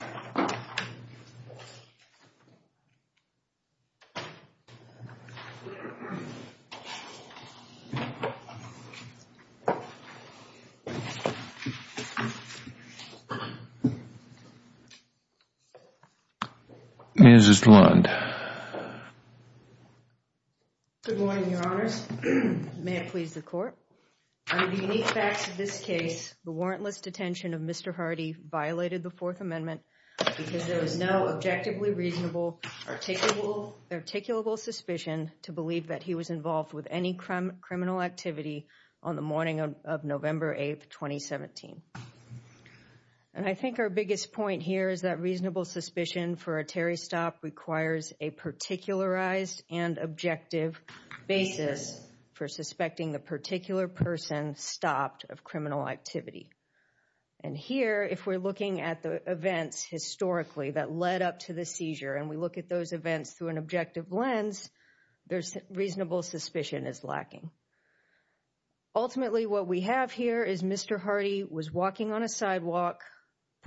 Good morning, Your Honors. May it please the Court. Under the unique facts of this case, the warrantless detention of Mr. Hardy violated the Fourth Amendment because there was no objectively reasonable or articulable suspicion to believe that he was involved with any criminal activity on the morning of November 8, 2017. And I think our biggest point here is that reasonable suspicion for a Terry stop requires a particularized and objective basis for suspecting the particular person stopped of criminal activity. And here, if we're looking at the events historically that led up to the seizure and we look at those events through an objective lens, there's reasonable suspicion is lacking. Ultimately, what we have here is Mr. Hardy was walking on a sidewalk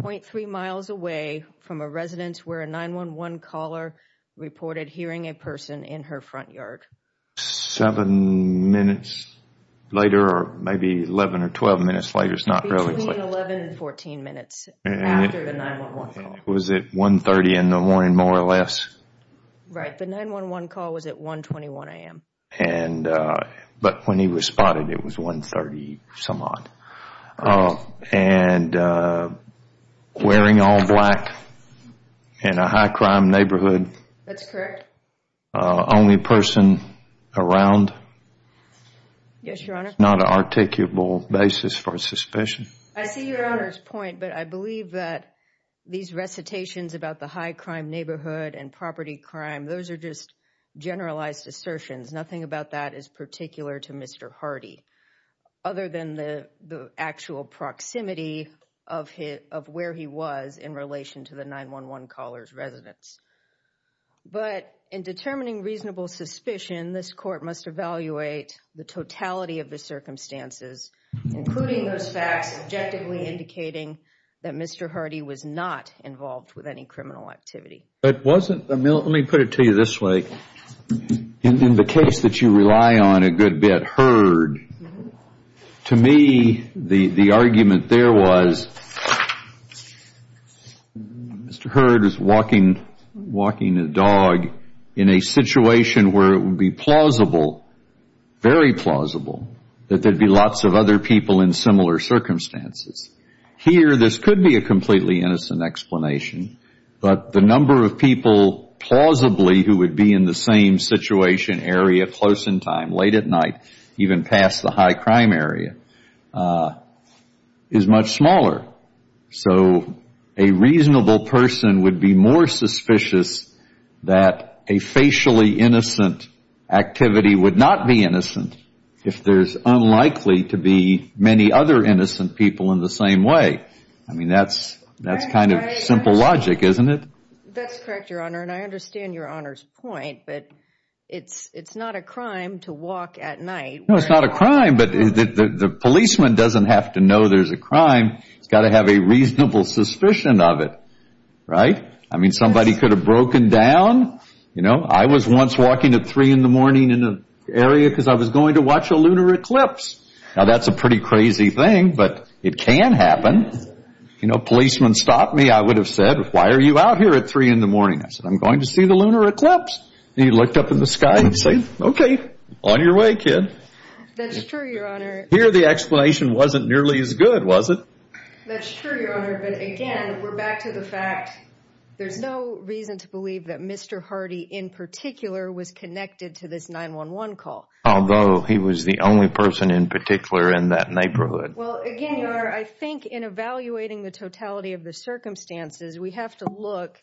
0.3 miles away from a residence where a 9-1-1 caller reported hearing a person in her front yard. Seven minutes later, or maybe 11 or 12 minutes later, it's not really late. Between 11 and 14 minutes after the 9-1-1 call. Was it 1.30 in the morning more or less? Right, the 9-1-1 call was at 1.21 a.m. But when he was spotted, it was 1.30 some odd. And wearing all black in a high crime neighborhood. That's correct. Only person around. Yes, Your Honor. Not an articulable basis for suspicion. I see Your Honor's point, but I believe that these recitations about the high crime neighborhood and property crime. Those are just generalized assertions. Nothing about that is particular to Mr. Hardy. Other than the actual proximity of where he was in relation to the 9-1-1 caller's residence. But in determining reasonable suspicion, this court must evaluate the totality of the circumstances. Including those facts objectively indicating that Mr. Hardy was not involved with any criminal activity. Let me put it to you this way. In the case that you rely on a good bit, Hurd. To me, the argument there was Mr. Hurd is walking a dog in a situation where it would be plausible, very plausible. That there would be lots of other people in similar circumstances. Here, this could be a completely innocent explanation. But the number of people plausibly who would be in the same situation, area, close in time, late at night. Even past the high crime area. Is much smaller. So, a reasonable person would be more suspicious that a facially innocent activity would not be innocent. If there's unlikely to be many other innocent people in the same way. I mean, that's kind of simple logic, isn't it? That's correct, Your Honor. And I understand Your Honor's point. But it's not a crime to walk at night. No, it's not a crime. But the policeman doesn't have to know there's a crime. He's got to have a reasonable suspicion of it. Right? I mean, somebody could have broken down. You know, I was once walking at 3 in the morning in an area because I was going to watch a lunar eclipse. Now, that's a pretty crazy thing. But it can happen. You know, a policeman stopped me. I would have said, why are you out here at 3 in the morning? I said, I'm going to see the lunar eclipse. He looked up in the sky and said, okay, on your way, kid. That's true, Your Honor. Here the explanation wasn't nearly as good, was it? That's true, Your Honor. But again, we're back to the fact there's no reason to believe that Mr. Hardy in particular was connected to this 911 call. Although he was the only person in particular in that neighborhood. Well, again, Your Honor, I think in evaluating the totality of the circumstances, we have to look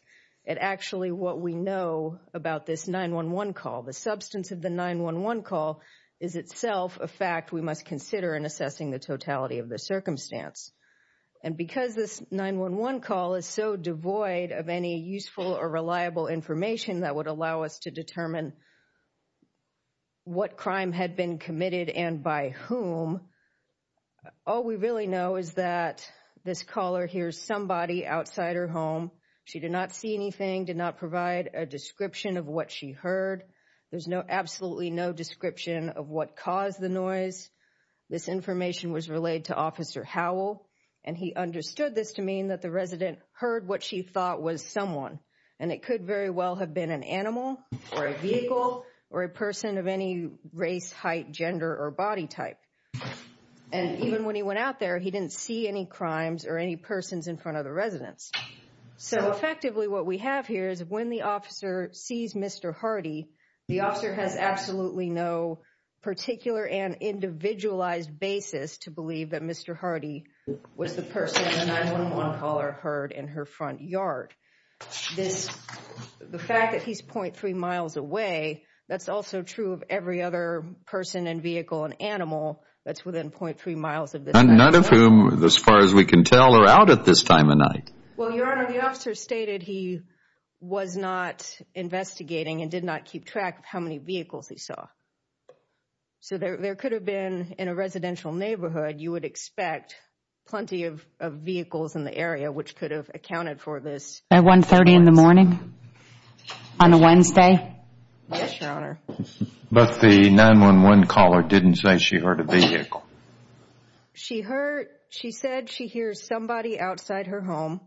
at actually what we know about this 911 call. The substance of the 911 call is itself a fact we must consider in assessing the totality of the circumstance. And because this 911 call is so devoid of any useful or reliable information that would allow us to determine what crime had been committed and by whom, all we really know is that this caller hears somebody outside her home. She did not see anything, did not provide a description of what she heard. There's absolutely no description of what caused the noise. This information was relayed to Officer Howell, and he understood this to mean that the resident heard what she thought was someone. And it could very well have been an animal or a vehicle or a person of any race, height, gender, or body type. And even when he went out there, he didn't see any crimes or any persons in front of the residence. So effectively, what we have here is when the officer sees Mr. Hardy, the officer has absolutely no particular and individualized basis to believe that Mr. Hardy was the person the 911 caller heard in her front yard. The fact that he's 0.3 miles away, that's also true of every other person and vehicle and animal that's within 0.3 miles of this man. None of whom, as far as we can tell, are out at this time of night. Well, Your Honor, the officer stated he was not investigating and did not keep track of how many vehicles he saw. So there could have been, in a residential neighborhood, you would expect plenty of vehicles in the area which could have accounted for this. At 1.30 in the morning? On a Wednesday? Yes, Your Honor. But the 911 caller didn't say she heard a vehicle. She heard, she said she hears somebody outside her home,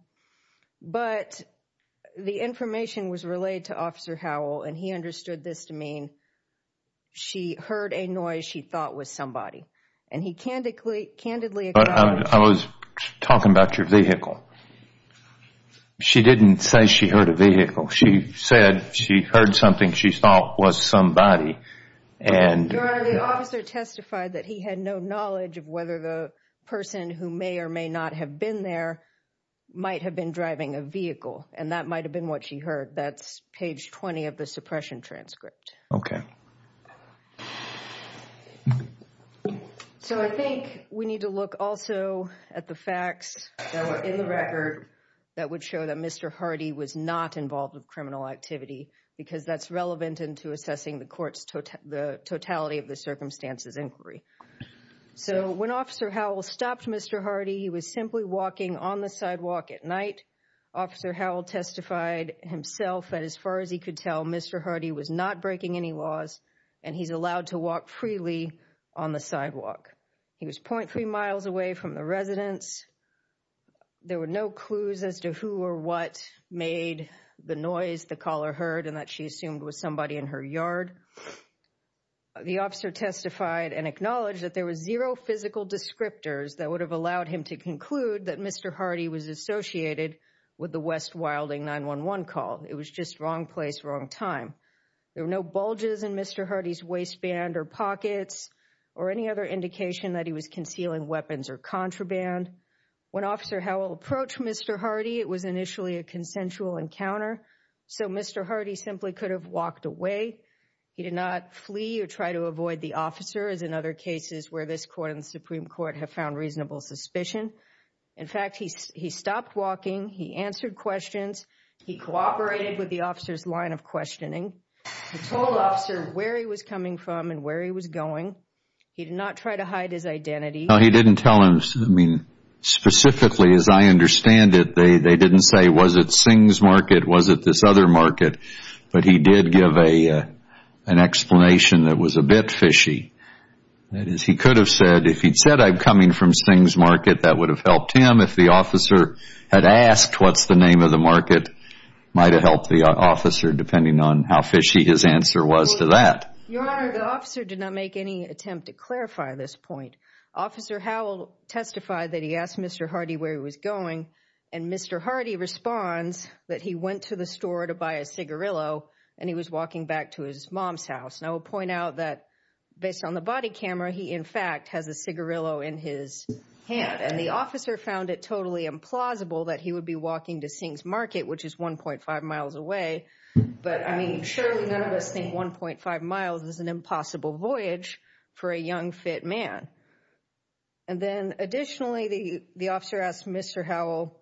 but the information was relayed to Officer Howell, and he understood this to mean she heard a noise she thought was somebody. And he candidly acknowledged that. But I was talking about your vehicle. She didn't say she heard a vehicle. She said she heard something she thought was somebody. Your Honor, the officer testified that he had no knowledge of whether the person who may or may not have been there might have been driving a vehicle, and that might have been what she heard. That's page 20 of the suppression transcript. Okay. So I think we need to look also at the facts that were in the record that would show that Mr. Hardy was not involved in criminal activity because that's relevant into assessing the court's totality of the circumstances inquiry. So when Officer Howell stopped Mr. Hardy, he was simply walking on the sidewalk at night. Officer Howell testified himself that as far as he could tell, Mr. Hardy was not breaking any laws, and he's allowed to walk freely on the sidewalk. He was 0.3 miles away from the residence. There were no clues as to who or what made the noise the caller heard and that she assumed was somebody in her yard. The officer testified and acknowledged that there was zero physical descriptors that would have allowed him to conclude that Mr. Hardy was associated with the West Wilding 911 call. It was just wrong place, wrong time. There were no bulges in Mr. Hardy's waistband or pockets or any other indication that he was concealing weapons or contraband. When Officer Howell approached Mr. Hardy, it was initially a consensual encounter, so Mr. Hardy simply could have walked away. He did not flee or try to avoid the officer, as in other cases where this court and the Supreme Court have found reasonable suspicion. In fact, he stopped walking. He answered questions. He cooperated with the officer's line of questioning. He told the officer where he was coming from and where he was going. He did not try to hide his identity. No, he didn't tell him. Specifically, as I understand it, they didn't say, was it Sings Market, was it this other market? But he did give an explanation that was a bit fishy. That is, he could have said, if he'd said, I'm coming from Sings Market, that would have helped him. If the officer had asked, what's the name of the market, might have helped the officer, depending on how fishy his answer was to that. Your Honor, the officer did not make any attempt to clarify this point. Officer Howell testified that he asked Mr. Hardy where he was going, and Mr. Hardy responds that he went to the store to buy a cigarillo, and he was walking back to his mom's house. And I will point out that based on the body camera, he in fact has a cigarillo in his hand. And the officer found it totally implausible that he would be walking to Sings Market, which is 1.5 miles away. But, I mean, surely none of us think 1.5 miles is an impossible voyage for a young, fit man. And then additionally, the officer asked Mr. Howell,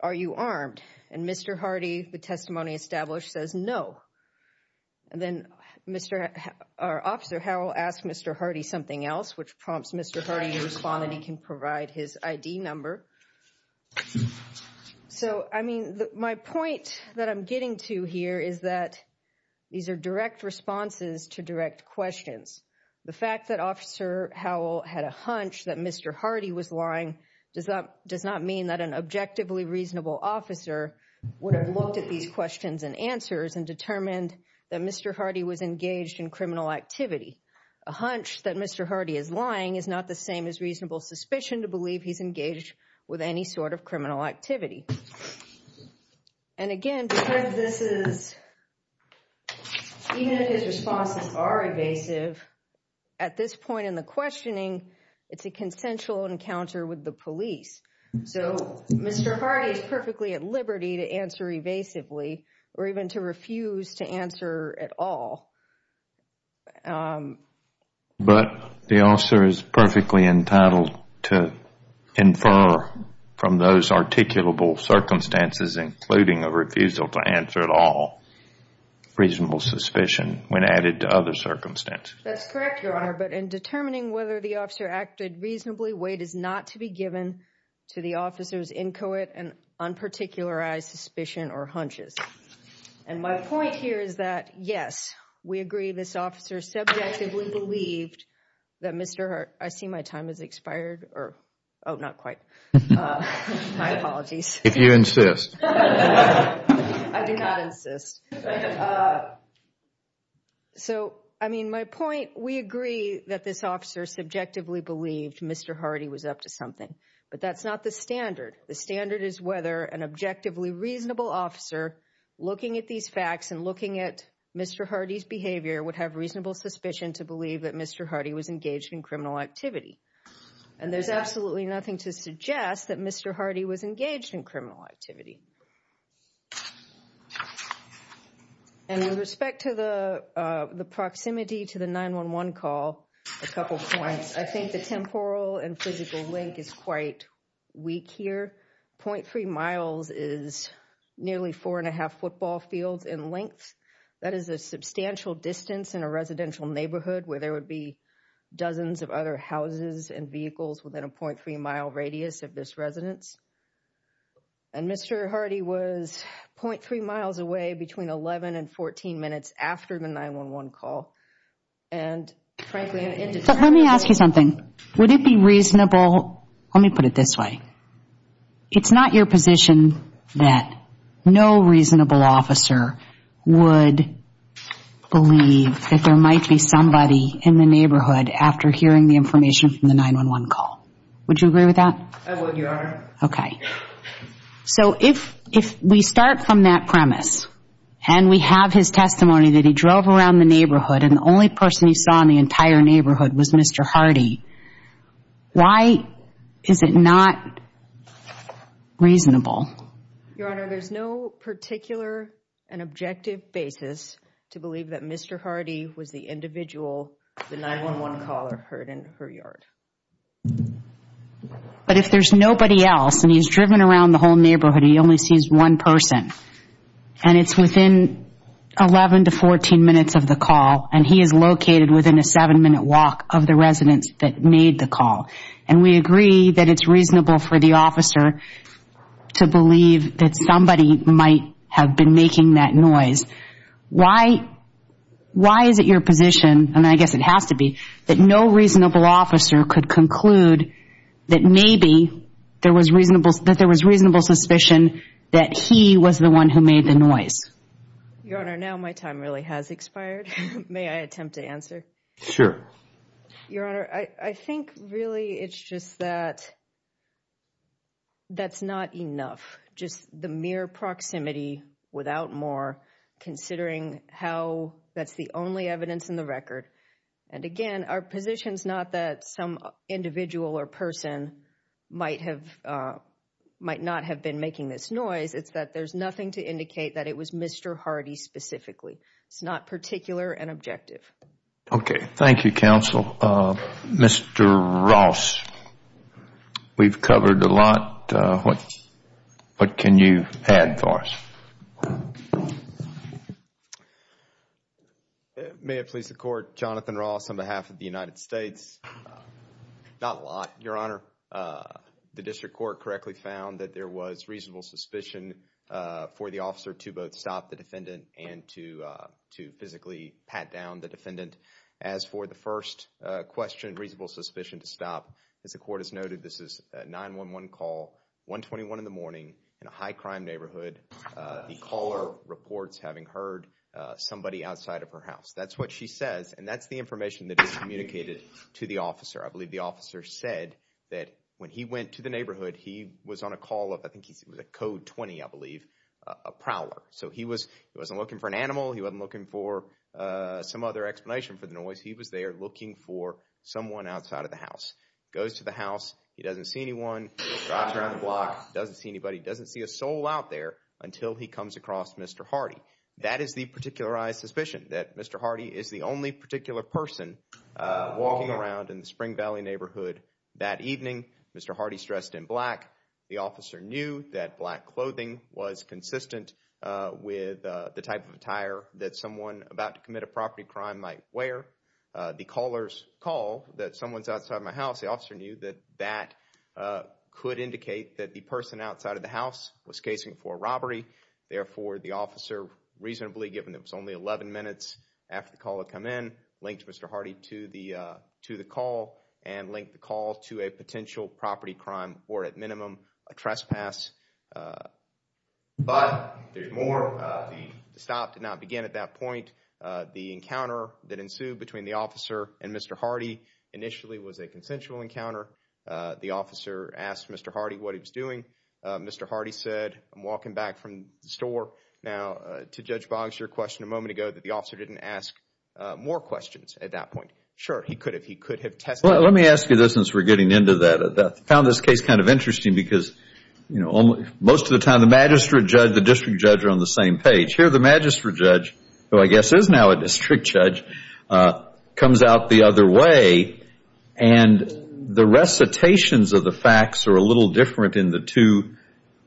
are you armed? And Mr. Hardy, the testimony established, says no. And then Officer Howell asked Mr. Hardy something else, which prompts Mr. Hardy to respond, and he can provide his ID number. So, I mean, my point that I'm getting to here is that these are direct responses to direct questions. The fact that Officer Howell had a hunch that Mr. Hardy was lying does not mean that an objectively reasonable officer would have looked at these questions and answers and determined that Mr. Hardy was engaged in criminal activity. A hunch that Mr. Hardy is lying is not the same as reasonable suspicion to believe he's engaged with any sort of criminal activity. And again, because this is, even if his responses are evasive, at this point in the questioning, it's a consensual encounter with the police. So, Mr. Hardy is perfectly at liberty to answer evasively or even to refuse to answer at all. But the officer is perfectly entitled to infer from those articulable circumstances, including a refusal to answer at all, reasonable suspicion when added to other circumstances. That's correct, Your Honor. But in determining whether the officer acted reasonably, weight is not to be given to the officer's inchoate and unparticularized suspicion or hunches. And my point here is that, yes, we agree this officer subjectively believed that Mr. Hardy... I see my time has expired. Oh, not quite. My apologies. If you insist. I do not insist. So, I mean, my point, we agree that this officer subjectively believed Mr. Hardy was up to something. But that's not the standard. The standard is whether an objectively reasonable officer looking at these facts and looking at Mr. Hardy's behavior would have reasonable suspicion to believe that Mr. Hardy was engaged in criminal activity. And there's absolutely nothing to suggest that Mr. Hardy was engaged in criminal activity. And with respect to the proximity to the 911 call, a couple of points. I think the temporal and physical link is quite weak here. 0.3 miles is nearly four and a half football fields in length. That is a substantial distance in a residential neighborhood where there would be dozens of other houses and vehicles within a 0.3 mile radius of this residence. And Mr. Hardy was 0.3 miles away between 11 and 14 minutes after the 911 call. And frankly, I'm indeterminate. But let me ask you something. Would it be reasonable, let me put it this way. It's not your position that no reasonable officer would believe that there might be somebody in the neighborhood after hearing the information from the 911 call. I would, Your Honor. Okay. So if we start from that premise and we have his testimony that he drove around the neighborhood and the only person he saw in the entire neighborhood was Mr. Hardy, why is it not reasonable? Your Honor, there's no particular and objective basis to believe that Mr. Hardy was the individual the 911 caller heard in her yard. But if there's nobody else and he's driven around the whole neighborhood and he only sees one person and it's within 11 to 14 minutes of the call and he is located within a seven minute walk of the residence that made the call and we agree that it's reasonable for the officer to believe that somebody might have been making that noise. Why is it your position, and I guess it has to be, that no reasonable officer could conclude that maybe there was reasonable suspicion that he was the one who made the noise? Your Honor, now my time really has expired. May I attempt to answer? Sure. Your Honor, I think really it's just that that's not enough. Just the mere proximity without more considering how that's the only evidence in the record. And again, our position is not that some individual or person might not have been making this noise. It's that there's nothing to indicate that it was Mr. Hardy specifically. It's not particular and objective. Okay. Thank you, counsel. Mr. Ross, we've covered a lot. What can you add for us? May it please the court. Jonathan Ross on behalf of the United States. Not a lot, Your Honor. The district court correctly found that there was reasonable suspicion for the officer to both stop the defendant and to physically pat down the defendant. As for the first question, reasonable suspicion to stop, as the court has noted, this is a 911 call, 121 in the morning, in a high-crime neighborhood. The caller reports having heard somebody outside of her house. That's what she says, and that's the information that is communicated to the officer. I believe the officer said that when he went to the neighborhood, he was on a call of, I think it was a Code 20, I believe, a prowler. So he wasn't looking for an animal. He wasn't looking for some other explanation for the noise. He was there looking for someone outside of the house. Goes to the house. He doesn't see anyone. Drops around the block. Doesn't see anybody. Doesn't see a soul out there until he comes across Mr. Hardy. That is the particularized suspicion, that Mr. Hardy is the only particular person walking around in the Spring Valley neighborhood that evening. Mr. Hardy's dressed in black. The officer knew that black clothing was consistent with the type of attire that someone about to commit a property crime might wear. The caller's call that someone's outside my house, the officer knew that that could indicate that the person outside of the house was casing for a robbery. Therefore, the officer, reasonably given that it was only 11 minutes after the caller had come in, linked Mr. Hardy to the call and linked the call to a potential property crime or, at minimum, a trespass. But there's more. The stop did not begin at that point. The encounter that ensued between the officer and Mr. Hardy initially was a consensual encounter. The officer asked Mr. Hardy what he was doing. Mr. Hardy said, I'm walking back from the store now to Judge Boggs. Your question a moment ago that the officer didn't ask more questions at that point. Sure, he could have. He could have tested. Well, let me ask you this since we're getting into that. I found this case kind of interesting because, you know, most of the time the magistrate judge, the district judge are on the same page. Here the magistrate judge, who I guess is now a district judge, comes out the other way. And the recitations of the facts are a little different in the two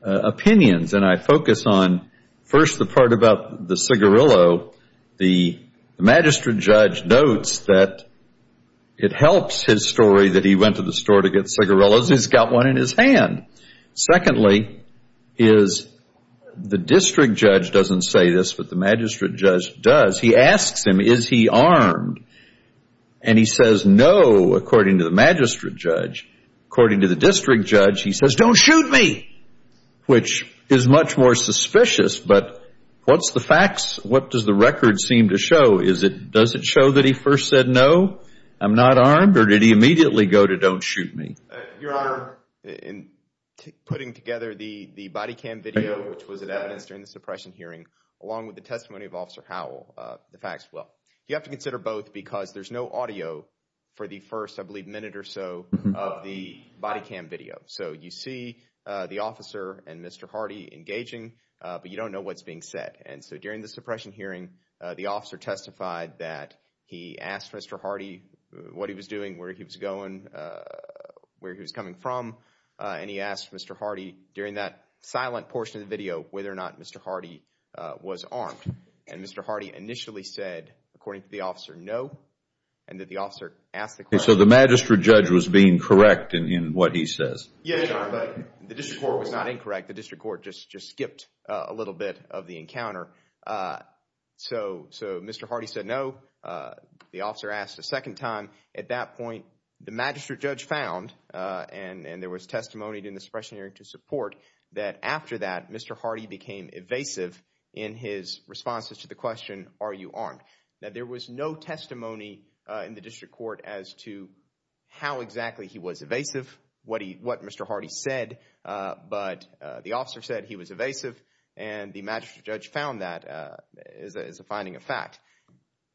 opinions. And I focus on, first, the part about the cigarillo. The magistrate judge notes that it helps his story that he went to the store to get cigarillos. He's got one in his hand. Secondly is the district judge doesn't say this, but the magistrate judge does. He asks him, is he armed? And he says no, according to the magistrate judge. According to the district judge, he says, don't shoot me, which is much more suspicious. But what's the facts? What does the record seem to show? Does it show that he first said no, I'm not armed, or did he immediately go to don't shoot me? Your Honor, in putting together the body cam video, which was at evidence during the suppression hearing, along with the testimony of Officer Howell, the facts, well, you have to consider both because there's no audio for the first, I believe, minute or so of the body cam video. So you see the officer and Mr. Hardy engaging, but you don't know what's being said. And so during the suppression hearing, the officer testified that he asked Mr. Hardy what he was doing, where he was going, where he was coming from. And he asked Mr. Hardy during that silent portion of the video whether or not Mr. Hardy was armed. And Mr. Hardy initially said, according to the officer, no, and that the officer asked the question. So the magistrate judge was being correct in what he says. Yes, Your Honor, but the district court was not incorrect. The district court just skipped a little bit of the encounter. So Mr. Hardy said no. The officer asked a second time. At that point, the magistrate judge found, and there was testimony in the suppression hearing to support, that after that, Mr. Hardy became evasive in his responses to the question, are you armed? Now, there was no testimony in the district court as to how exactly he was evasive, what Mr. Hardy said. But the officer said he was evasive, and the magistrate judge found that as a finding of fact.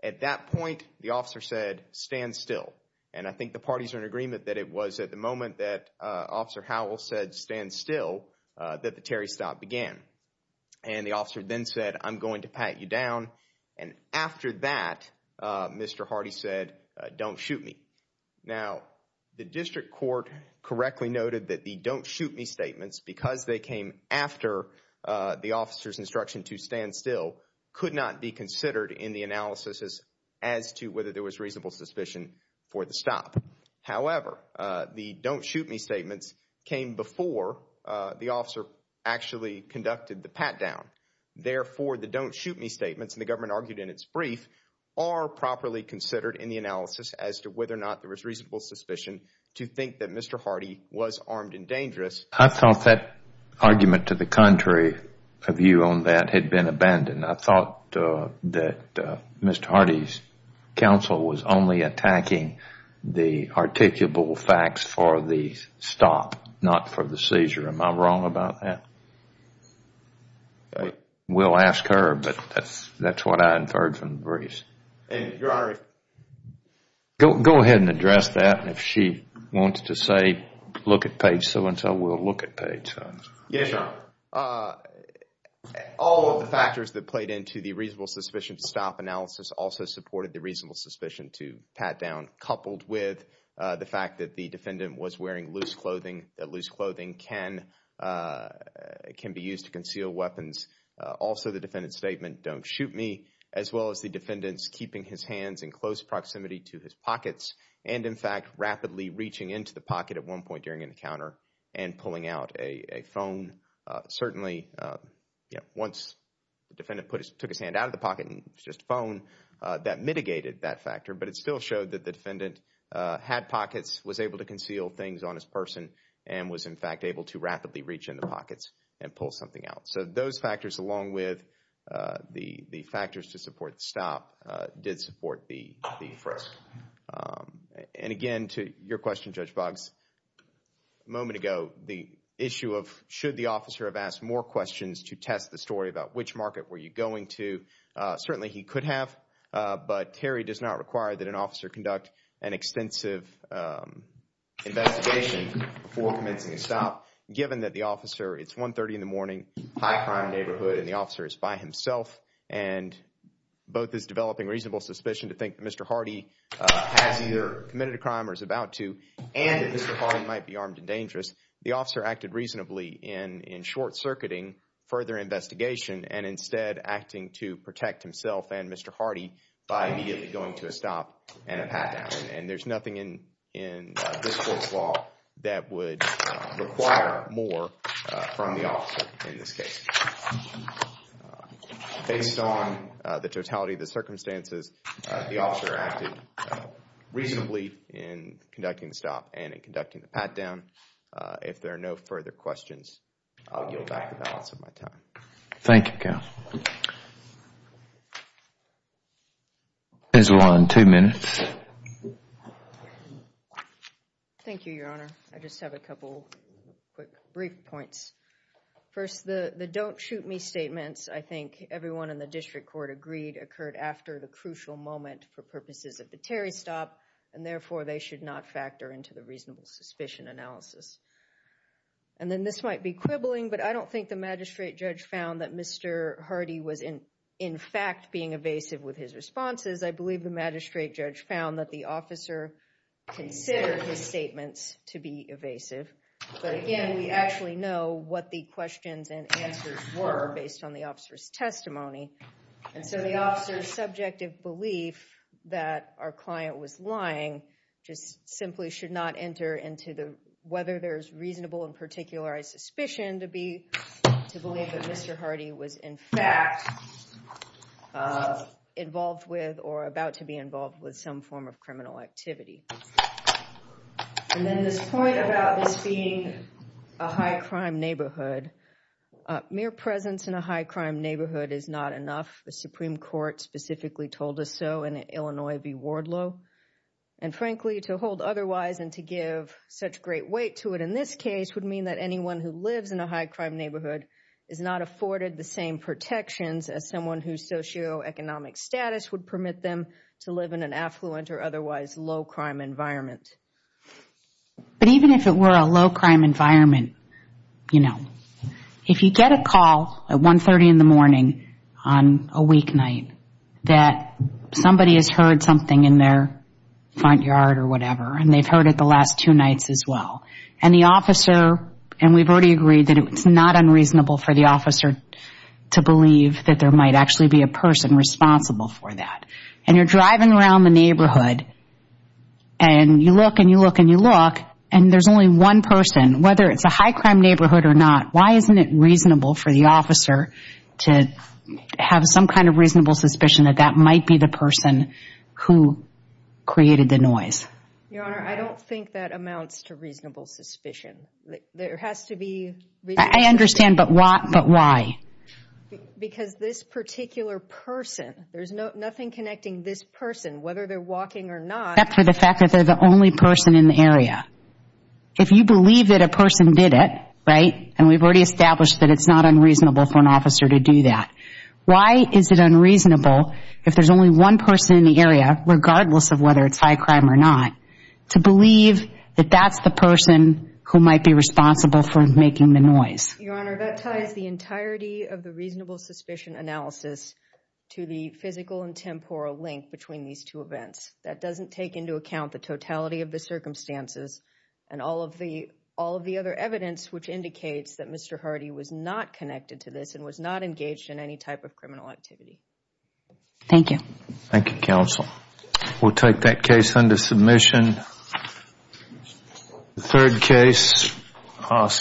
At that point, the officer said, stand still. And I think the parties are in agreement that it was at the moment that Officer Howell said stand still that the Terry stop began. And the officer then said, I'm going to pat you down. And after that, Mr. Hardy said, don't shoot me. Now, the district court correctly noted that the don't shoot me statements, because they came after the officer's instruction to stand still, could not be considered in the analysis as to whether there was reasonable suspicion for the stop. However, the don't shoot me statements came before the officer actually conducted the pat down. Therefore, the don't shoot me statements, and the government argued in its brief, are properly considered in the analysis as to whether or not there was reasonable suspicion to think that Mr. Hardy was armed and dangerous. I thought that argument to the contrary of you on that had been abandoned. I thought that Mr. Hardy's counsel was only attacking the articulable facts for the stop, not for the seizure. Am I wrong about that? We'll ask her, but that's what I inferred from the briefs. Go ahead and address that. If she wants to say, look at page so-and-so, we'll look at page so-and-so. Yes, Your Honor. All of the factors that played into the reasonable suspicion stop analysis also supported the reasonable suspicion to pat down, coupled with the fact that the defendant was wearing loose clothing. Loose clothing can be used to conceal weapons. Also, the defendant's statement, don't shoot me, as well as the defendant's keeping his hands in close proximity to his pockets, and, in fact, rapidly reaching into the pocket at one point during an encounter and pulling out a phone. Certainly, once the defendant took his hand out of the pocket and it was just a phone, that mitigated that factor. But it still showed that the defendant had pockets, was able to conceal things on his person, and was, in fact, able to rapidly reach in the pockets and pull something out. So those factors, along with the factors to support the stop, did support the frisk. And, again, to your question, Judge Boggs, a moment ago, the issue of should the officer have asked more questions to test the story about which market were you going to, certainly he could have, but Terry does not require that an officer conduct an extensive investigation before commencing a stop, given that the officer, it's 1.30 in the morning, high crime neighborhood, and the officer is by himself, and both is developing reasonable suspicion to think that Mr. Hardy has either committed a crime or is about to, and that Mr. Hardy might be armed and dangerous. The officer acted reasonably in short-circuiting further investigation, and instead acting to protect himself and Mr. Hardy by immediately going to a stop and a pat-down. And there's nothing in this court's law that would require more from the officer in this case. Based on the totality of the circumstances, the officer acted reasonably in conducting the stop and in conducting the pat-down. If there are no further questions, I'll yield back the balance of my time. Thank you, counsel. Counsel on two minutes. Thank you, Your Honor. I just have a couple quick brief points. First, the don't shoot me statements, I think everyone in the district court agreed, occurred after the crucial moment for purposes of the Terry stop, and therefore they should not factor into the reasonable suspicion analysis. And then this might be quibbling, but I don't think the magistrate judge found that Mr. Hardy was in fact being evasive with his responses. I believe the magistrate judge found that the officer considered his statements to be evasive. But again, we actually know what the questions and answers were based on the officer's testimony. And so the officer's subjective belief that our client was lying just simply should not enter into whether there's reasonable and particularized suspicion to believe that Mr. Hardy was in fact involved with or about to be involved with some form of criminal activity. And then this point about this being a high-crime neighborhood. Mere presence in a high-crime neighborhood is not enough. The Supreme Court specifically told us so in Illinois v. Wardlow. And frankly, to hold otherwise and to give such great weight to it in this case would mean that anyone who lives in a high-crime neighborhood is not afforded the same protections as someone whose socioeconomic status would permit them to live in an affluent or otherwise low-crime environment. But even if it were a low-crime environment, you know, if you get a call at 1.30 in the morning on a weeknight that somebody has heard something in their front yard or whatever, and they've heard it the last two nights as well, and the officer, and we've already agreed that it's not unreasonable for the officer to believe that there might actually be a person responsible for that. And you're driving around the neighborhood, and you look and you look and you look, and there's only one person, whether it's a high-crime neighborhood or not, why isn't it reasonable for the officer to have some kind of reasonable suspicion that that might be the person who created the noise? Your Honor, I don't think that amounts to reasonable suspicion. There has to be reasonable suspicion. I understand, but why? Because this particular person, there's nothing connecting this person, whether they're walking or not. If you believe that a person did it, right, and we've already established that it's not unreasonable for an officer to do that, why is it unreasonable if there's only one person in the area, regardless of whether it's high-crime or not, to believe that that's the person who might be responsible for making the noise? Your Honor, that ties the entirety of the reasonable suspicion analysis to the physical and temporal link between these two events. That doesn't take into account the totality of the circumstances and all of the other evidence which indicates that Mr. Hardy was not connected to this and was not engaged in any type of criminal activity. Thank you. Thank you, counsel. We'll take that case under submission. The third case.